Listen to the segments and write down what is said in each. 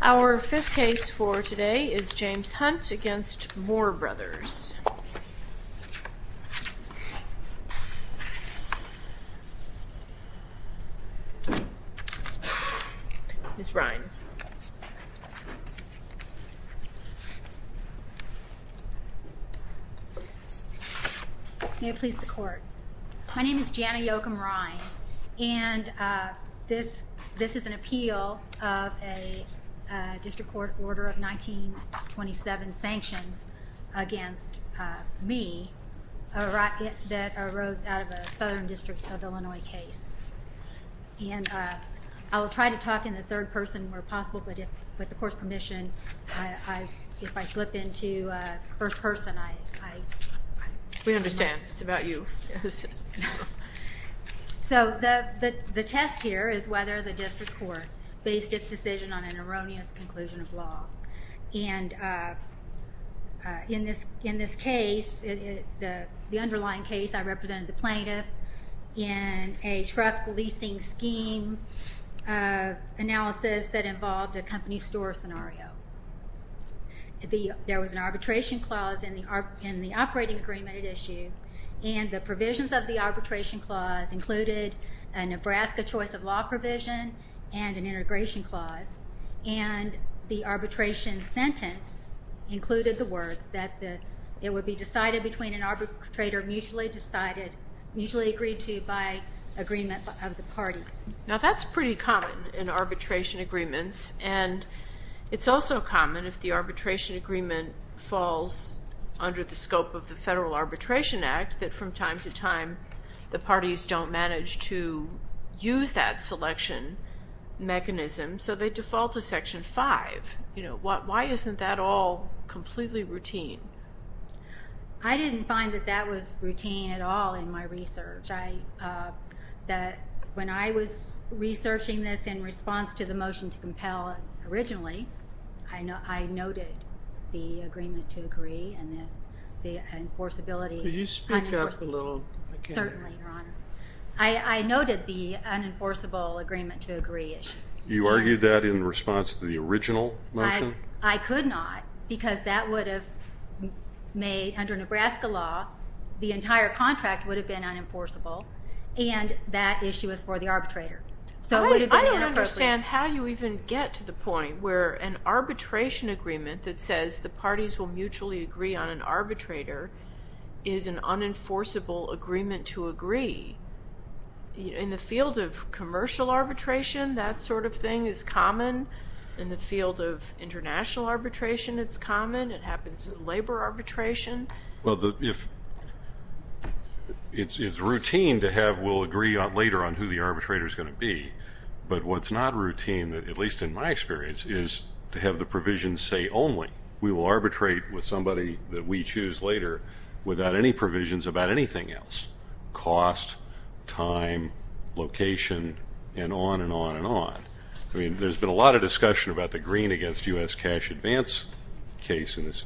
Our fifth case for today is James Hunt v. Moore Brothers. Ms. Brine. May it please the court. My name is Jana Yoakum Brine, and this is an appeal of a district court order of 1927 sanctions against me that arose out of a southern district of Illinois case. And I will try to talk in the third person where possible, but with the court's permission, if I slip into first person, I... We understand. It's about you. So the test here is whether the district court based its decision on an erroneous conclusion of law. And in this case, the underlying case, I represented the plaintiff in a truck leasing scheme analysis that involved a company store scenario. There was an arbitration clause in the operating agreement at issue, and the provisions of the arbitration clause included a Nebraska choice of law provision and an integration clause. And the arbitration sentence included the words that it would be decided between an arbitrator mutually decided, mutually agreed to by agreement of the parties. Now, that's pretty common in arbitration agreements. And it's also common if the arbitration agreement falls under the scope of the Federal Arbitration Act, that from time to time, the parties don't manage to use that selection mechanism, so they default to Section 5. You know, why isn't that all completely routine? I didn't find that that was routine at all in my research. When I was researching this in response to the motion to compel originally, I noted the agreement to agree and the enforceability. Could you speak up a little? Certainly, Your Honor. I noted the unenforceable agreement to agree issue. You argued that in response to the original motion? I could not, because that would have made, under Nebraska law, the entire contract would have been unenforceable, and that issue is for the arbitrator. So it would have been inappropriate. I don't understand how you even get to the point where an arbitration agreement that says the parties will mutually agree on an arbitrator is an unenforceable agreement to agree. In the field of commercial arbitration, that sort of thing is common. In the field of international arbitration, it's common. It happens in labor arbitration. Well, it's routine to have we'll agree later on who the arbitrator is going to be, but what's not routine, at least in my experience, is to have the provision say only. We will arbitrate with somebody that we choose later without any provisions about anything else, cost, time, location, and on and on and on. I mean, there's been a lot of discussion about the green against U.S. cash advance case in this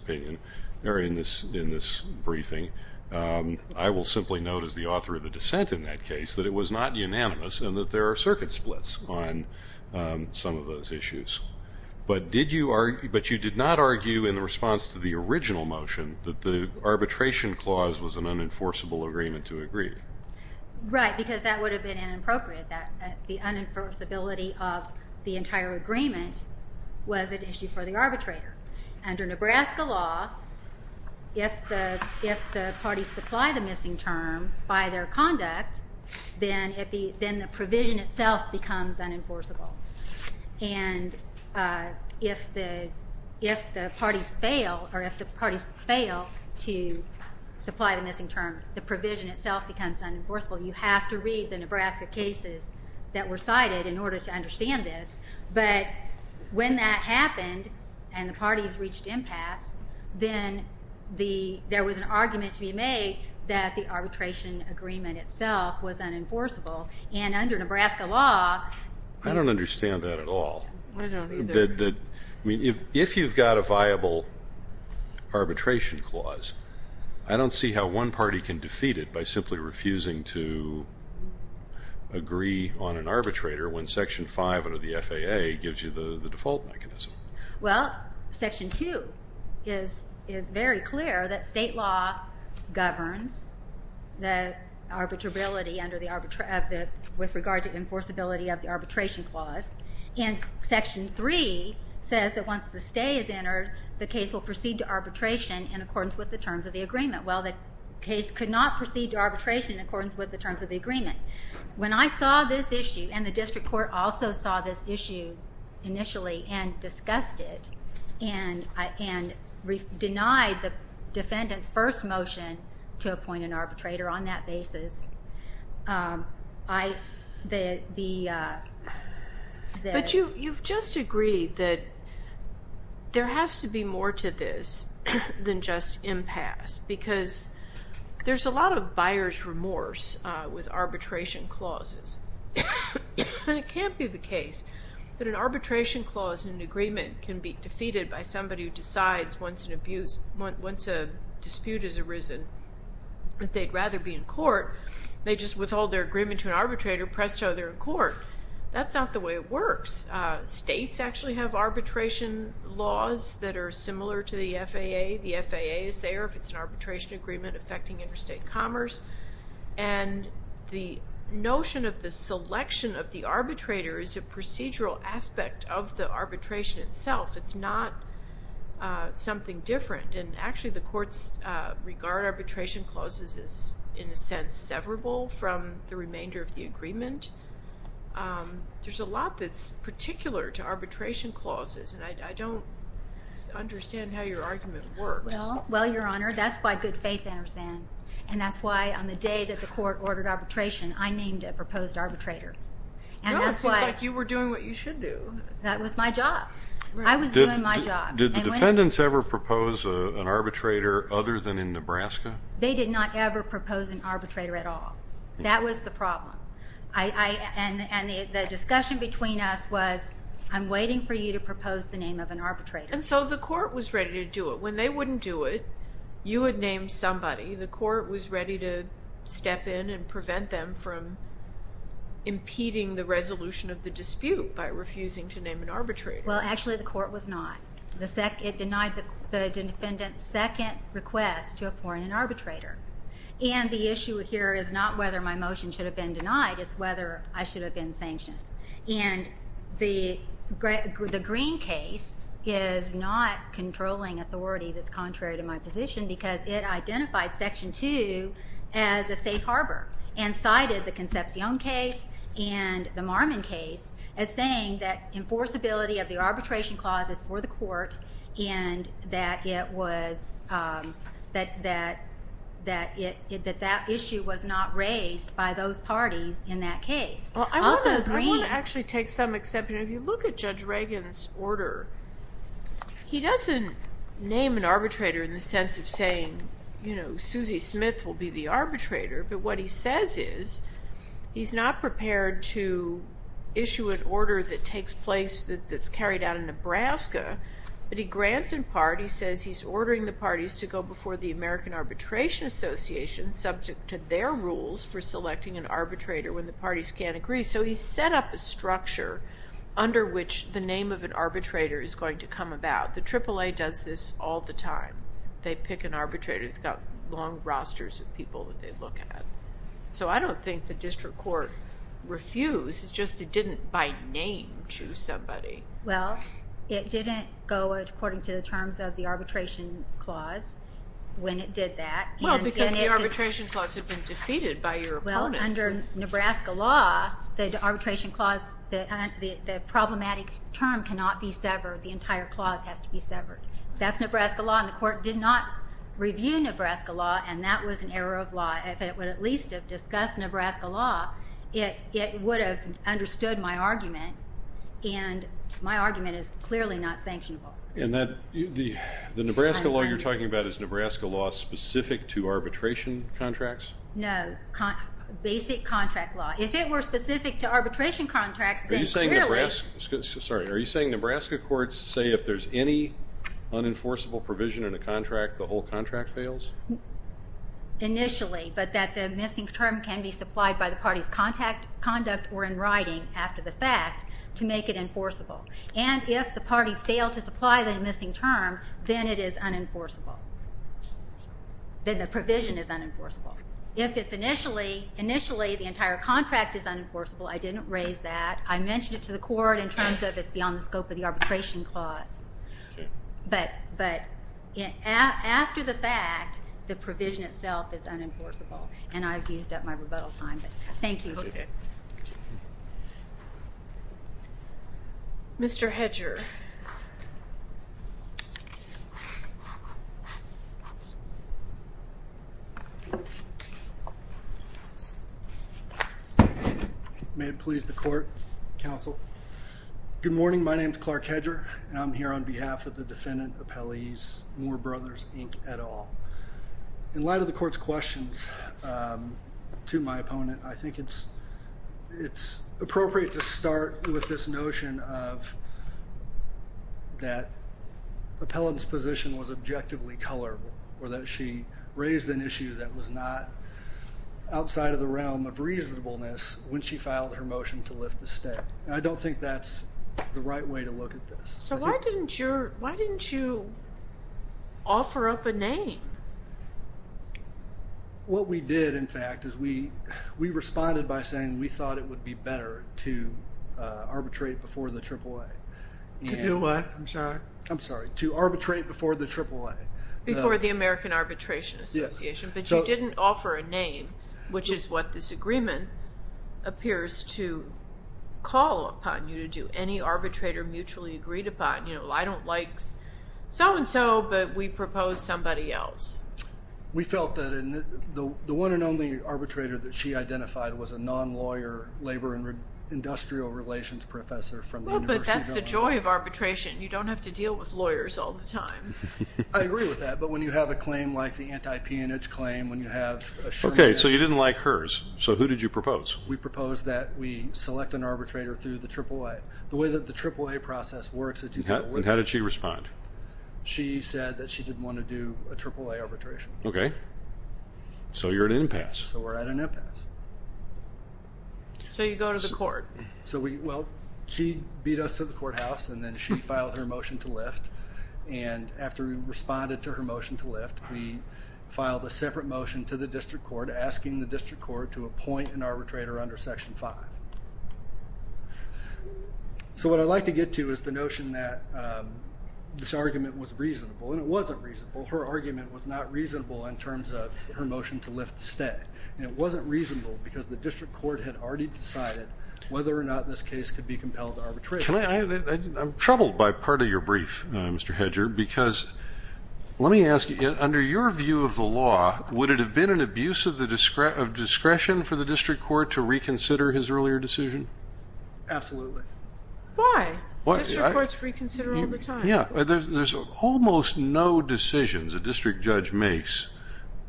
briefing. I will simply note as the author of the dissent in that case that it was not unanimous and that there are circuit splits on some of those issues. But you did not argue in the response to the original motion that the arbitration clause was an unenforceable agreement to agree. Right, because that would have been inappropriate. The unenforceability of the entire agreement was an issue for the arbitrator. Under Nebraska law, if the parties supply the missing term by their conduct, then the provision itself becomes unenforceable. And if the parties fail to supply the missing term, the provision itself becomes unenforceable. You have to read the Nebraska cases that were cited in order to understand this. But when that happened and the parties reached impasse, then there was an argument to be made that the arbitration agreement itself was unenforceable. And under Nebraska law... I don't understand that at all. I don't either. I mean, if you've got a viable arbitration clause, I don't see how one party can defeat it by simply refusing to agree on an arbitrator when Section 5 under the FAA gives you the default mechanism. Well, Section 2 is very clear that state law governs the arbitrability with regard to the enforceability of the arbitration clause. And Section 3 says that once the stay is entered, the case will proceed to arbitration in accordance with the terms of the agreement. Well, the case could not proceed to arbitration in accordance with the terms of the agreement. When I saw this issue, and the district court also saw this issue initially and discussed it, and denied the defendant's first motion to appoint an arbitrator on that basis, I... But you've just agreed that there has to be more to this than just impasse. Because there's a lot of buyer's remorse with arbitration clauses. And it can't be the case that an arbitration clause in an agreement can be defeated by somebody who decides once a dispute has arisen that they'd rather be in court. They just withhold their agreement to an arbitrator, presto, they're in court. That's not the way it works. States actually have arbitration laws that are similar to the FAA. The FAA is there if it's an arbitration agreement affecting interstate commerce. And the notion of the selection of the arbitrator is a procedural aspect of the arbitration itself. It's not something different. And actually, the courts regard arbitration clauses as, in a sense, severable from the remainder of the agreement. There's a lot that's particular to arbitration clauses, and I don't understand how your argument works. Well, Your Honor, that's why good faith I understand. And that's why on the day that the court ordered arbitration, I named a proposed arbitrator. No, it seems like you were doing what you should do. That was my job. I was doing my job. Did the defendants ever propose an arbitrator other than in Nebraska? They did not ever propose an arbitrator at all. That was the problem. And the discussion between us was, I'm waiting for you to propose the name of an arbitrator. And so the court was ready to do it. When they wouldn't do it, you would name somebody. The court was ready to step in and prevent them from impeding the resolution of the dispute by refusing to name an arbitrator. Well, actually, the court was not. It denied the defendant's second request to appoint an arbitrator. And the issue here is not whether my motion should have been denied. It's whether I should have been sanctioned. And the Green case is not controlling authority that's contrary to my position because it identified Section 2 as a safe harbor and cited the Concepcion case and the Marmon case as saying that enforceability of the arbitration clause is for the court and that that issue was not raised by those parties in that case. Also, Green. I want to actually take some exception. If you look at Judge Reagan's order, he doesn't name an arbitrator in the sense of saying, you know, what he says is he's not prepared to issue an order that takes place that's carried out in Nebraska, but he grants in part, he says he's ordering the parties to go before the American Arbitration Association subject to their rules for selecting an arbitrator when the parties can't agree. So he set up a structure under which the name of an arbitrator is going to come about. The AAA does this all the time. They pick an arbitrator that's got long rosters of people that they look at. So I don't think the district court refused. It's just it didn't, by name, choose somebody. Well, it didn't go according to the terms of the arbitration clause when it did that. Well, because the arbitration clause had been defeated by your opponent. Well, under Nebraska law, the arbitration clause, the problematic term cannot be severed. The entire clause has to be severed. That's Nebraska law, and the court did not review Nebraska law, and that was an error of law. If it would at least have discussed Nebraska law, it would have understood my argument, and my argument is clearly not sanctionable. And the Nebraska law you're talking about, is Nebraska law specific to arbitration contracts? No, basic contract law. If it were specific to arbitration contracts, then clearly. Sorry, are you saying Nebraska courts say if there's any unenforceable provision in a contract, the whole contract fails? Initially, but that the missing term can be supplied by the party's conduct or in writing after the fact to make it enforceable. And if the parties fail to supply the missing term, then it is unenforceable. Then the provision is unenforceable. If it's initially, initially the entire contract is unenforceable, I didn't raise that. I mentioned it to the court in terms of it's beyond the scope of the arbitration clause. But after the fact, the provision itself is unenforceable, and I've used up my rebuttal time. Thank you. Mr. Hedger. Mr. Hedger. May it please the court, counsel. Good morning, my name is Clark Hedger, and I'm here on behalf of the defendant, appellees, Moore Brothers, Inc. et al. In light of the court's questions to my opponent, I think it's appropriate to start with this notion of that appellant's position was objectively colorable or that she raised an issue that was not outside of the realm of reasonableness when she filed her motion to lift the state. And I don't think that's the right way to look at this. So why didn't you offer up a name? What we did, in fact, is we responded by saying we thought it would be better to arbitrate before the AAA. To do what, I'm sorry? I'm sorry, to arbitrate before the AAA. Before the American Arbitration Association. But you didn't offer a name, which is what this agreement appears to call upon you to do. Any arbitrator mutually agreed upon. You know, I don't like so-and-so, but we propose somebody else. We felt that the one and only arbitrator that she identified was a non-lawyer labor and industrial relations professor from the University of Illinois. Well, but that's the joy of arbitration. You don't have to deal with lawyers all the time. I agree with that. But when you have a claim like the anti-peonage claim, when you have a shrink in it. Okay, so you didn't like hers. So who did you propose? We proposed that we select an arbitrator through the AAA. The way that the AAA process works is to get a lift. And how did she respond? She said that she didn't want to do a AAA arbitration. Okay. So you're at an impasse. So we're at an impasse. So you go to the court. Well, she beat us to the courthouse, and then she filed her motion to lift. And after we responded to her motion to lift, we filed a separate motion to the district court asking the district court to appoint an arbitrator under Section 5. So what I'd like to get to is the notion that this argument was reasonable. And it wasn't reasonable. Her argument was not reasonable in terms of her motion to lift the stay. And it wasn't reasonable because the district court had already decided whether or not this case could be compelled to arbitration. I'm troubled by part of your brief, Mr. Hedger, because let me ask you, under your view of the law, would it have been an abuse of discretion for the district court to reconsider his earlier decision? Absolutely. Why? District courts reconsider all the time. Yeah. There's almost no decisions a district judge makes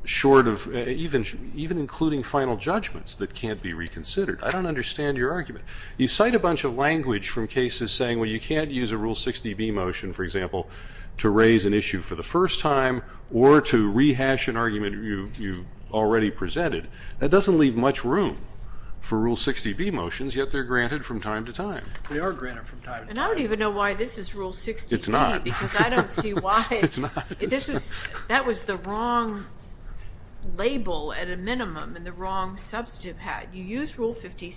short of even including final judgments that can't be reconsidered. I don't understand your argument. You cite a bunch of language from cases saying, well, you can't use a Rule 60B motion, for example, to raise an issue for the first time or to rehash an argument you already presented. That doesn't leave much room for Rule 60B motions, yet they're granted from time to time. They are granted from time to time. And I don't even know why this is Rule 60B. It's not. Because I don't see why. It's not. That was the wrong label at a minimum and the wrong substantive hat. You use Rule 60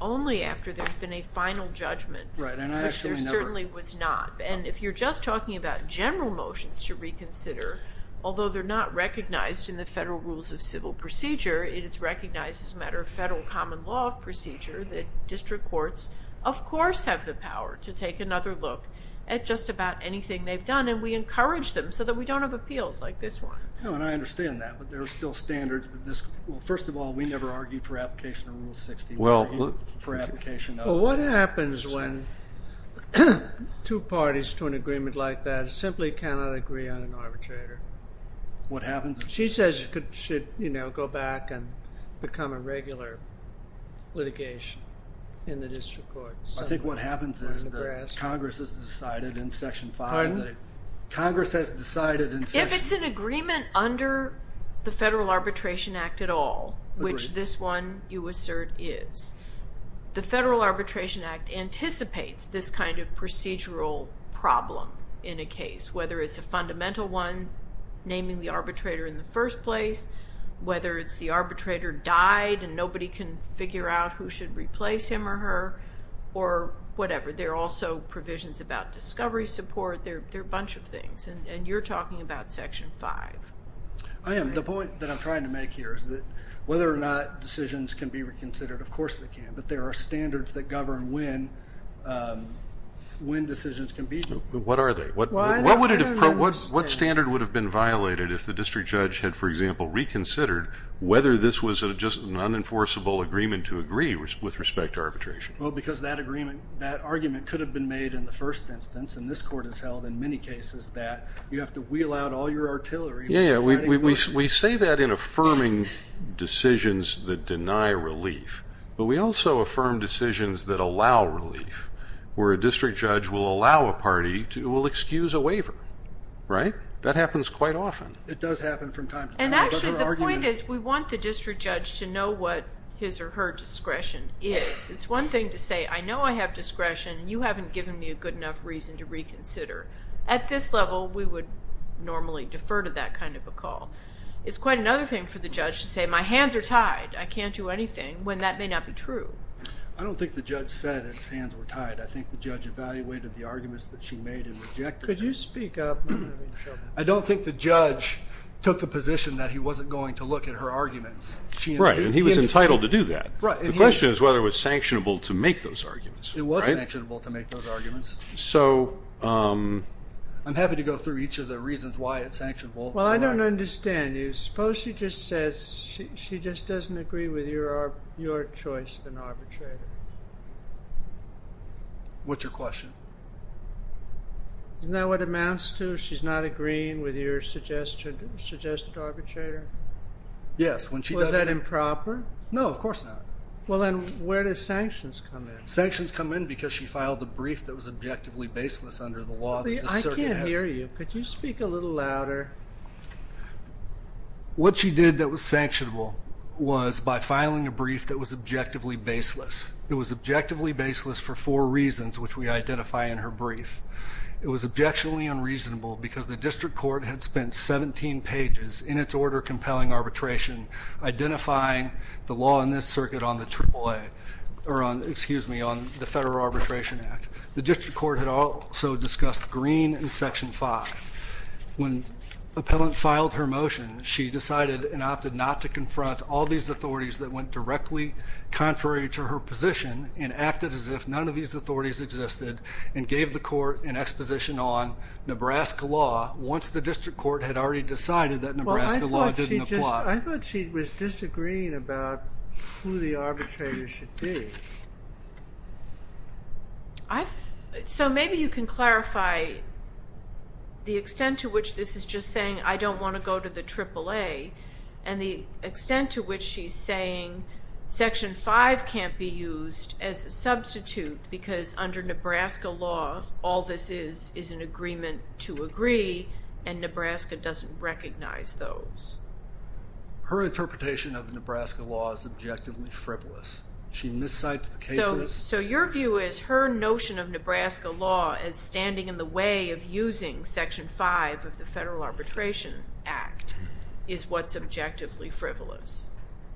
only after there's been a final judgment, which there certainly was not. And if you're just talking about general motions to reconsider, although they're not recognized in the Federal Rules of Civil Procedure, it is recognized as a matter of federal common law of procedure that district courts, of course, have the power to take another look at just about anything they've done, and we encourage them so that we don't have appeals like this one. No, and I understand that, but there are still standards. Well, first of all, we never argued for application of Rule 60. We argued for application of Rule 60. Well, what happens when two parties to an agreement like that simply cannot agree on an arbitrator? What happens? She says it should, you know, go back and become a regular litigation in the district court. I think what happens is that Congress has decided in Section 5. Pardon? Congress has decided in Section 5. If it's an agreement under the Federal Arbitration Act at all, which this one you assert is, the Federal Arbitration Act anticipates this kind of procedural problem in a case, whether it's a fundamental one, naming the arbitrator in the first place, whether it's the arbitrator died and nobody can figure out who should replace him or her, or whatever. There are also provisions about discovery support. There are a bunch of things, and you're talking about Section 5. I am. The point that I'm trying to make here is that whether or not decisions can be reconsidered, of course they can, but there are standards that govern when decisions can be reconsidered. What are they? What standard would have been violated if the district judge had, for example, reconsidered whether this was just an unenforceable agreement to agree with respect to arbitration? Well, because that argument could have been made in the first instance, and this Court has held in many cases that you have to wheel out all your artillery. Yeah, yeah. We say that in affirming decisions that deny relief, but we also affirm decisions that allow relief, where a district judge will allow a party to excuse a waiver. Right? That happens quite often. It does happen from time to time. And actually the point is we want the district judge to know what his or her discretion is. It's one thing to say, I know I have discretion, and you haven't given me a good enough reason to reconsider. At this level, we would normally defer to that kind of a call. It's quite another thing for the judge to say, my hands are tied. I can't do anything, when that may not be true. I don't think the judge said his hands were tied. I think the judge evaluated the arguments that she made and rejected them. Could you speak up? I don't think the judge took the position that he wasn't going to look at her arguments. Right, and he was entitled to do that. The question is whether it was sanctionable to make those arguments. It was sanctionable to make those arguments. I'm happy to go through each of the reasons why it's sanctionable. Well, I don't understand you. Suppose she just says she just doesn't agree with your choice of an arbitrator. What's your question? Isn't that what amounts to she's not agreeing with your suggested arbitrator? Yes. Was that improper? No, of course not. Well, then where do sanctions come in? Sanctions come in because she filed a brief that was objectively baseless under the law that the circuit has. I can't hear you. Could you speak a little louder? What she did that was sanctionable was by filing a brief that was objectively baseless. It was objectively baseless for four reasons, which we identify in her brief. It was objectionably unreasonable because the district court had spent 17 pages in its order compelling arbitration, identifying the law in this circuit on the AAA, or excuse me, on the Federal Arbitration Act. The district court had also discussed Green and Section 5. When the appellant filed her motion, she decided and opted not to confront all these authorities that went directly contrary to her position and acted as if none of these authorities existed and gave the court an exposition on Nebraska law once the district court had already decided that Nebraska law didn't apply. I thought she was disagreeing about who the arbitrator should be. So maybe you can clarify the extent to which this is just saying I don't want to go to the AAA and the extent to which she's saying Section 5 can't be used as a substitute because under Nebraska law, all this is is an agreement to agree and Nebraska doesn't recognize those. Her interpretation of Nebraska law is objectively frivolous. She miscites the cases. So your view is her notion of Nebraska law as standing in the way of using Section 5 of the Federal Arbitration Act is what's objectively frivolous?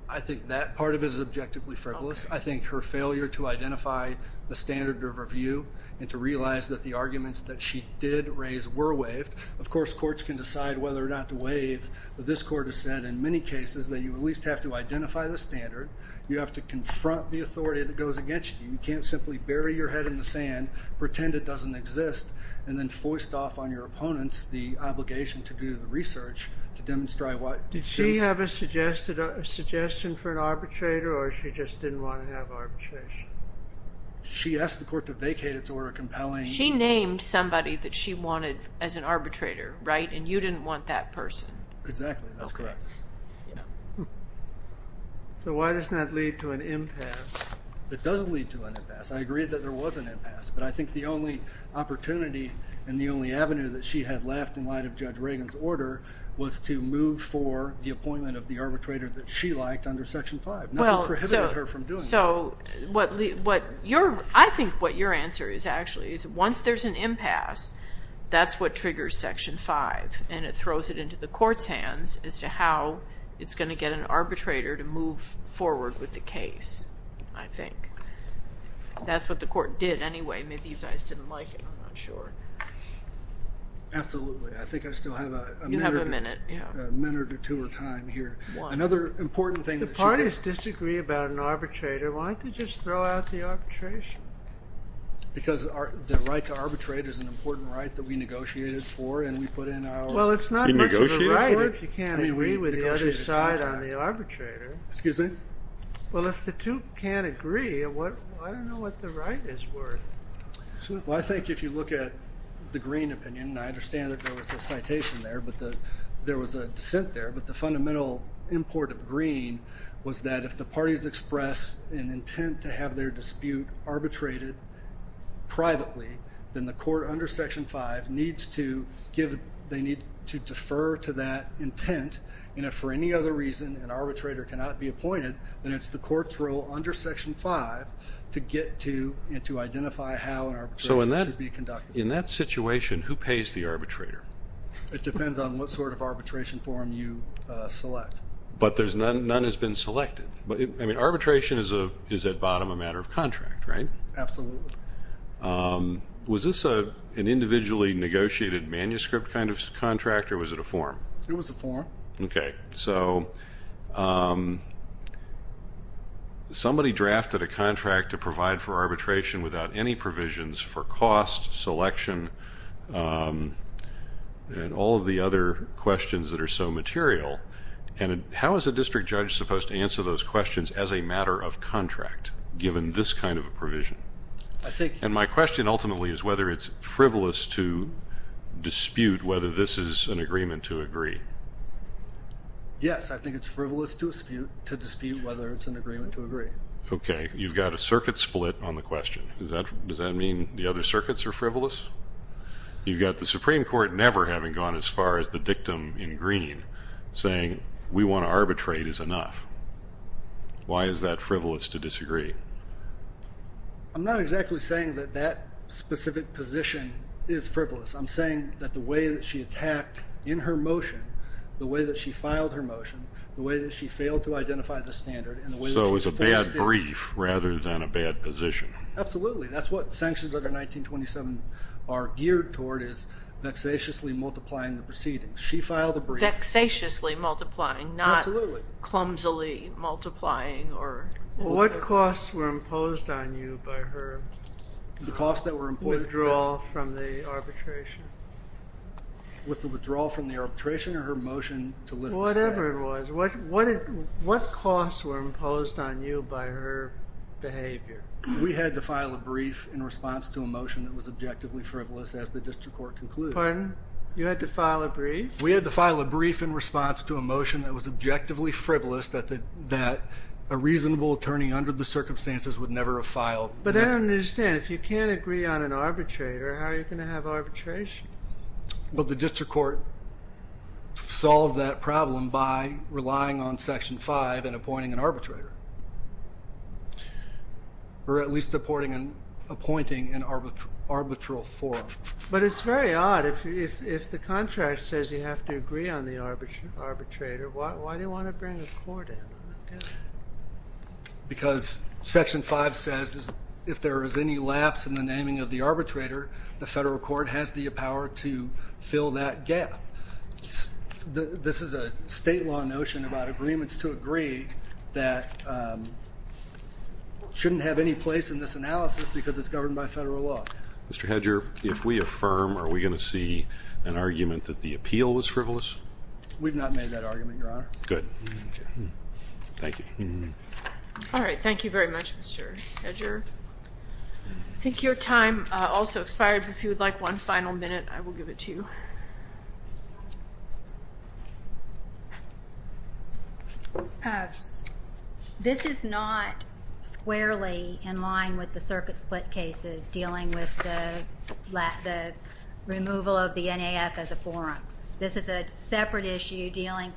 I think that part of it is objectively frivolous. I think her failure to identify the standard of review and to realize that the arguments that she did raise were waived. Of course, courts can decide whether or not to waive. This court has said in many cases that you at least have to identify the standard. You have to confront the authority that goes against you. You can't simply bury your head in the sand, pretend it doesn't exist, and then foist off on your opponents the obligation to do the research to demonstrate why it exists. Did she have a suggestion for an arbitrator or she just didn't want to have arbitration? She asked the court to vacate its order compelling. She named somebody that she wanted as an arbitrator, right, and you didn't want that person. Exactly, that's correct. So why doesn't that lead to an impasse? It doesn't lead to an impasse. I agree that there was an impasse, but I think the only opportunity and the only avenue that she had left in light of Judge Reagan's order was to move for the appointment of the arbitrator that she liked under Section 5. Nothing prohibited her from doing that. I think what your answer is actually is once there's an impasse, that's what triggers Section 5, and it throws it into the court's hands as to how it's going to get an arbitrator to move forward with the case, I think. That's what the court did anyway. Maybe you guys didn't like it. I'm not sure. Absolutely. I think I still have a minute or two of time here. Another important thing that she did. If the parties disagree about an arbitrator, why don't they just throw out the arbitration? Because the right to arbitrate is an important right that we negotiated for Well, it's not much of a right if you can't agree with the other side on the arbitrator. Excuse me? Well, if the two can't agree, I don't know what the right is worth. Well, I think if you look at the Green opinion, and I understand that there was a citation there, but there was a dissent there. But the fundamental import of Green was that if the parties express an intent to have their dispute arbitrated privately, then the court under Section 5 needs to defer to that intent, and if for any other reason an arbitrator cannot be appointed, then it's the court's role under Section 5 to get to and to identify how an arbitration should be conducted. So in that situation, who pays the arbitrator? It depends on what sort of arbitration form you select. But none has been selected. I mean, arbitration is at bottom a matter of contract, right? Absolutely. Was this an individually negotiated manuscript kind of contract, or was it a form? It was a form. Okay. So somebody drafted a contract to provide for arbitration without any provisions for cost, selection, and all of the other questions that are so material, and how is a district judge supposed to answer those questions as a matter of contract given this kind of a provision? And my question ultimately is whether it's frivolous to dispute whether this is an agreement to agree. Yes, I think it's frivolous to dispute whether it's an agreement to agree. Okay. You've got a circuit split on the question. Does that mean the other circuits are frivolous? You've got the Supreme Court never having gone as far as the dictum in green saying we want to arbitrate is enough. Why is that frivolous to disagree? I'm not exactly saying that that specific position is frivolous. I'm saying that the way that she attacked in her motion, the way that she filed her motion, the way that she failed to identify the standard, and the way that she forced it. So it's a bad brief rather than a bad position. Absolutely. That's what sanctions under 1927 are geared toward is vexatiously multiplying the proceedings. She filed a brief. Vexatiously multiplying, not clumsily multiplying. What costs were imposed on you by her withdrawal from the arbitration? With the withdrawal from the arbitration or her motion to lift the statute? Whatever it was. What costs were imposed on you by her behavior? We had to file a brief in response to a motion that was objectively frivolous as the district court concluded. Pardon? You had to file a brief? We had to file a brief in response to a motion that was objectively frivolous, that a reasonable attorney under the circumstances would never have filed. But I don't understand. If you can't agree on an arbitrator, how are you going to have arbitration? Well, the district court solved that problem by relying on Section 5 and appointing an arbitrator, or at least appointing an arbitral forum. But it's very odd. If the contract says you have to agree on the arbitrator, why do you want to bring a court in? Because Section 5 says if there is any lapse in the naming of the arbitrator, the federal court has the power to fill that gap. This is a state law notion about agreements to agree that shouldn't have any place in this analysis because it's governed by federal law. Mr. Hedger, if we affirm, are we going to see an argument that the appeal was frivolous? We've not made that argument, Your Honor. Good. Thank you. All right. Thank you very much, Mr. Hedger. I think your time also expired. If you would like one final minute, I will give it to you. This is not squarely in line with the circuit split cases dealing with the removal of the NAF as a forum. This is a separate issue dealing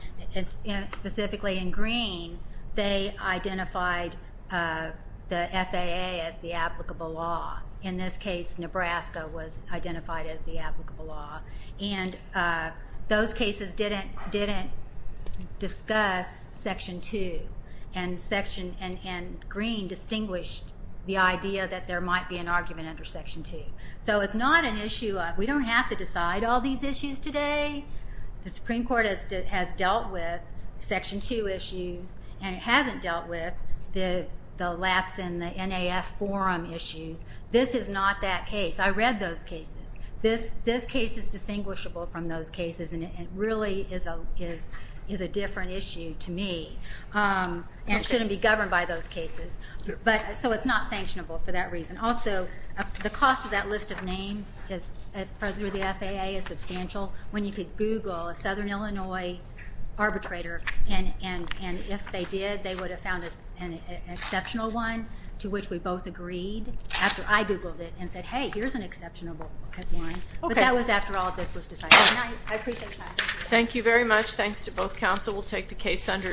specifically in green. They identified the FAA as the applicable law. In this case, Nebraska was identified as the applicable law. And those cases didn't discuss Section 2, and green distinguished the idea that there might be an argument under Section 2. So it's not an issue of we don't have to decide all these issues today. The Supreme Court has dealt with Section 2 issues, and it hasn't dealt with the lapse in the NAF forum issues. This is not that case. I read those cases. This case is distinguishable from those cases, and it really is a different issue to me. And it shouldn't be governed by those cases. So it's not sanctionable for that reason. Also, the cost of that list of names through the FAA is substantial. When you could Google a southern Illinois arbitrator, and if they did, they would have found an exceptional one to which we both agreed, after I Googled it and said, hey, here's an exceptional one. But that was after all of this was decided. I appreciate your time. Thank you very much. Thanks to both counsel. We'll take the case under advisement.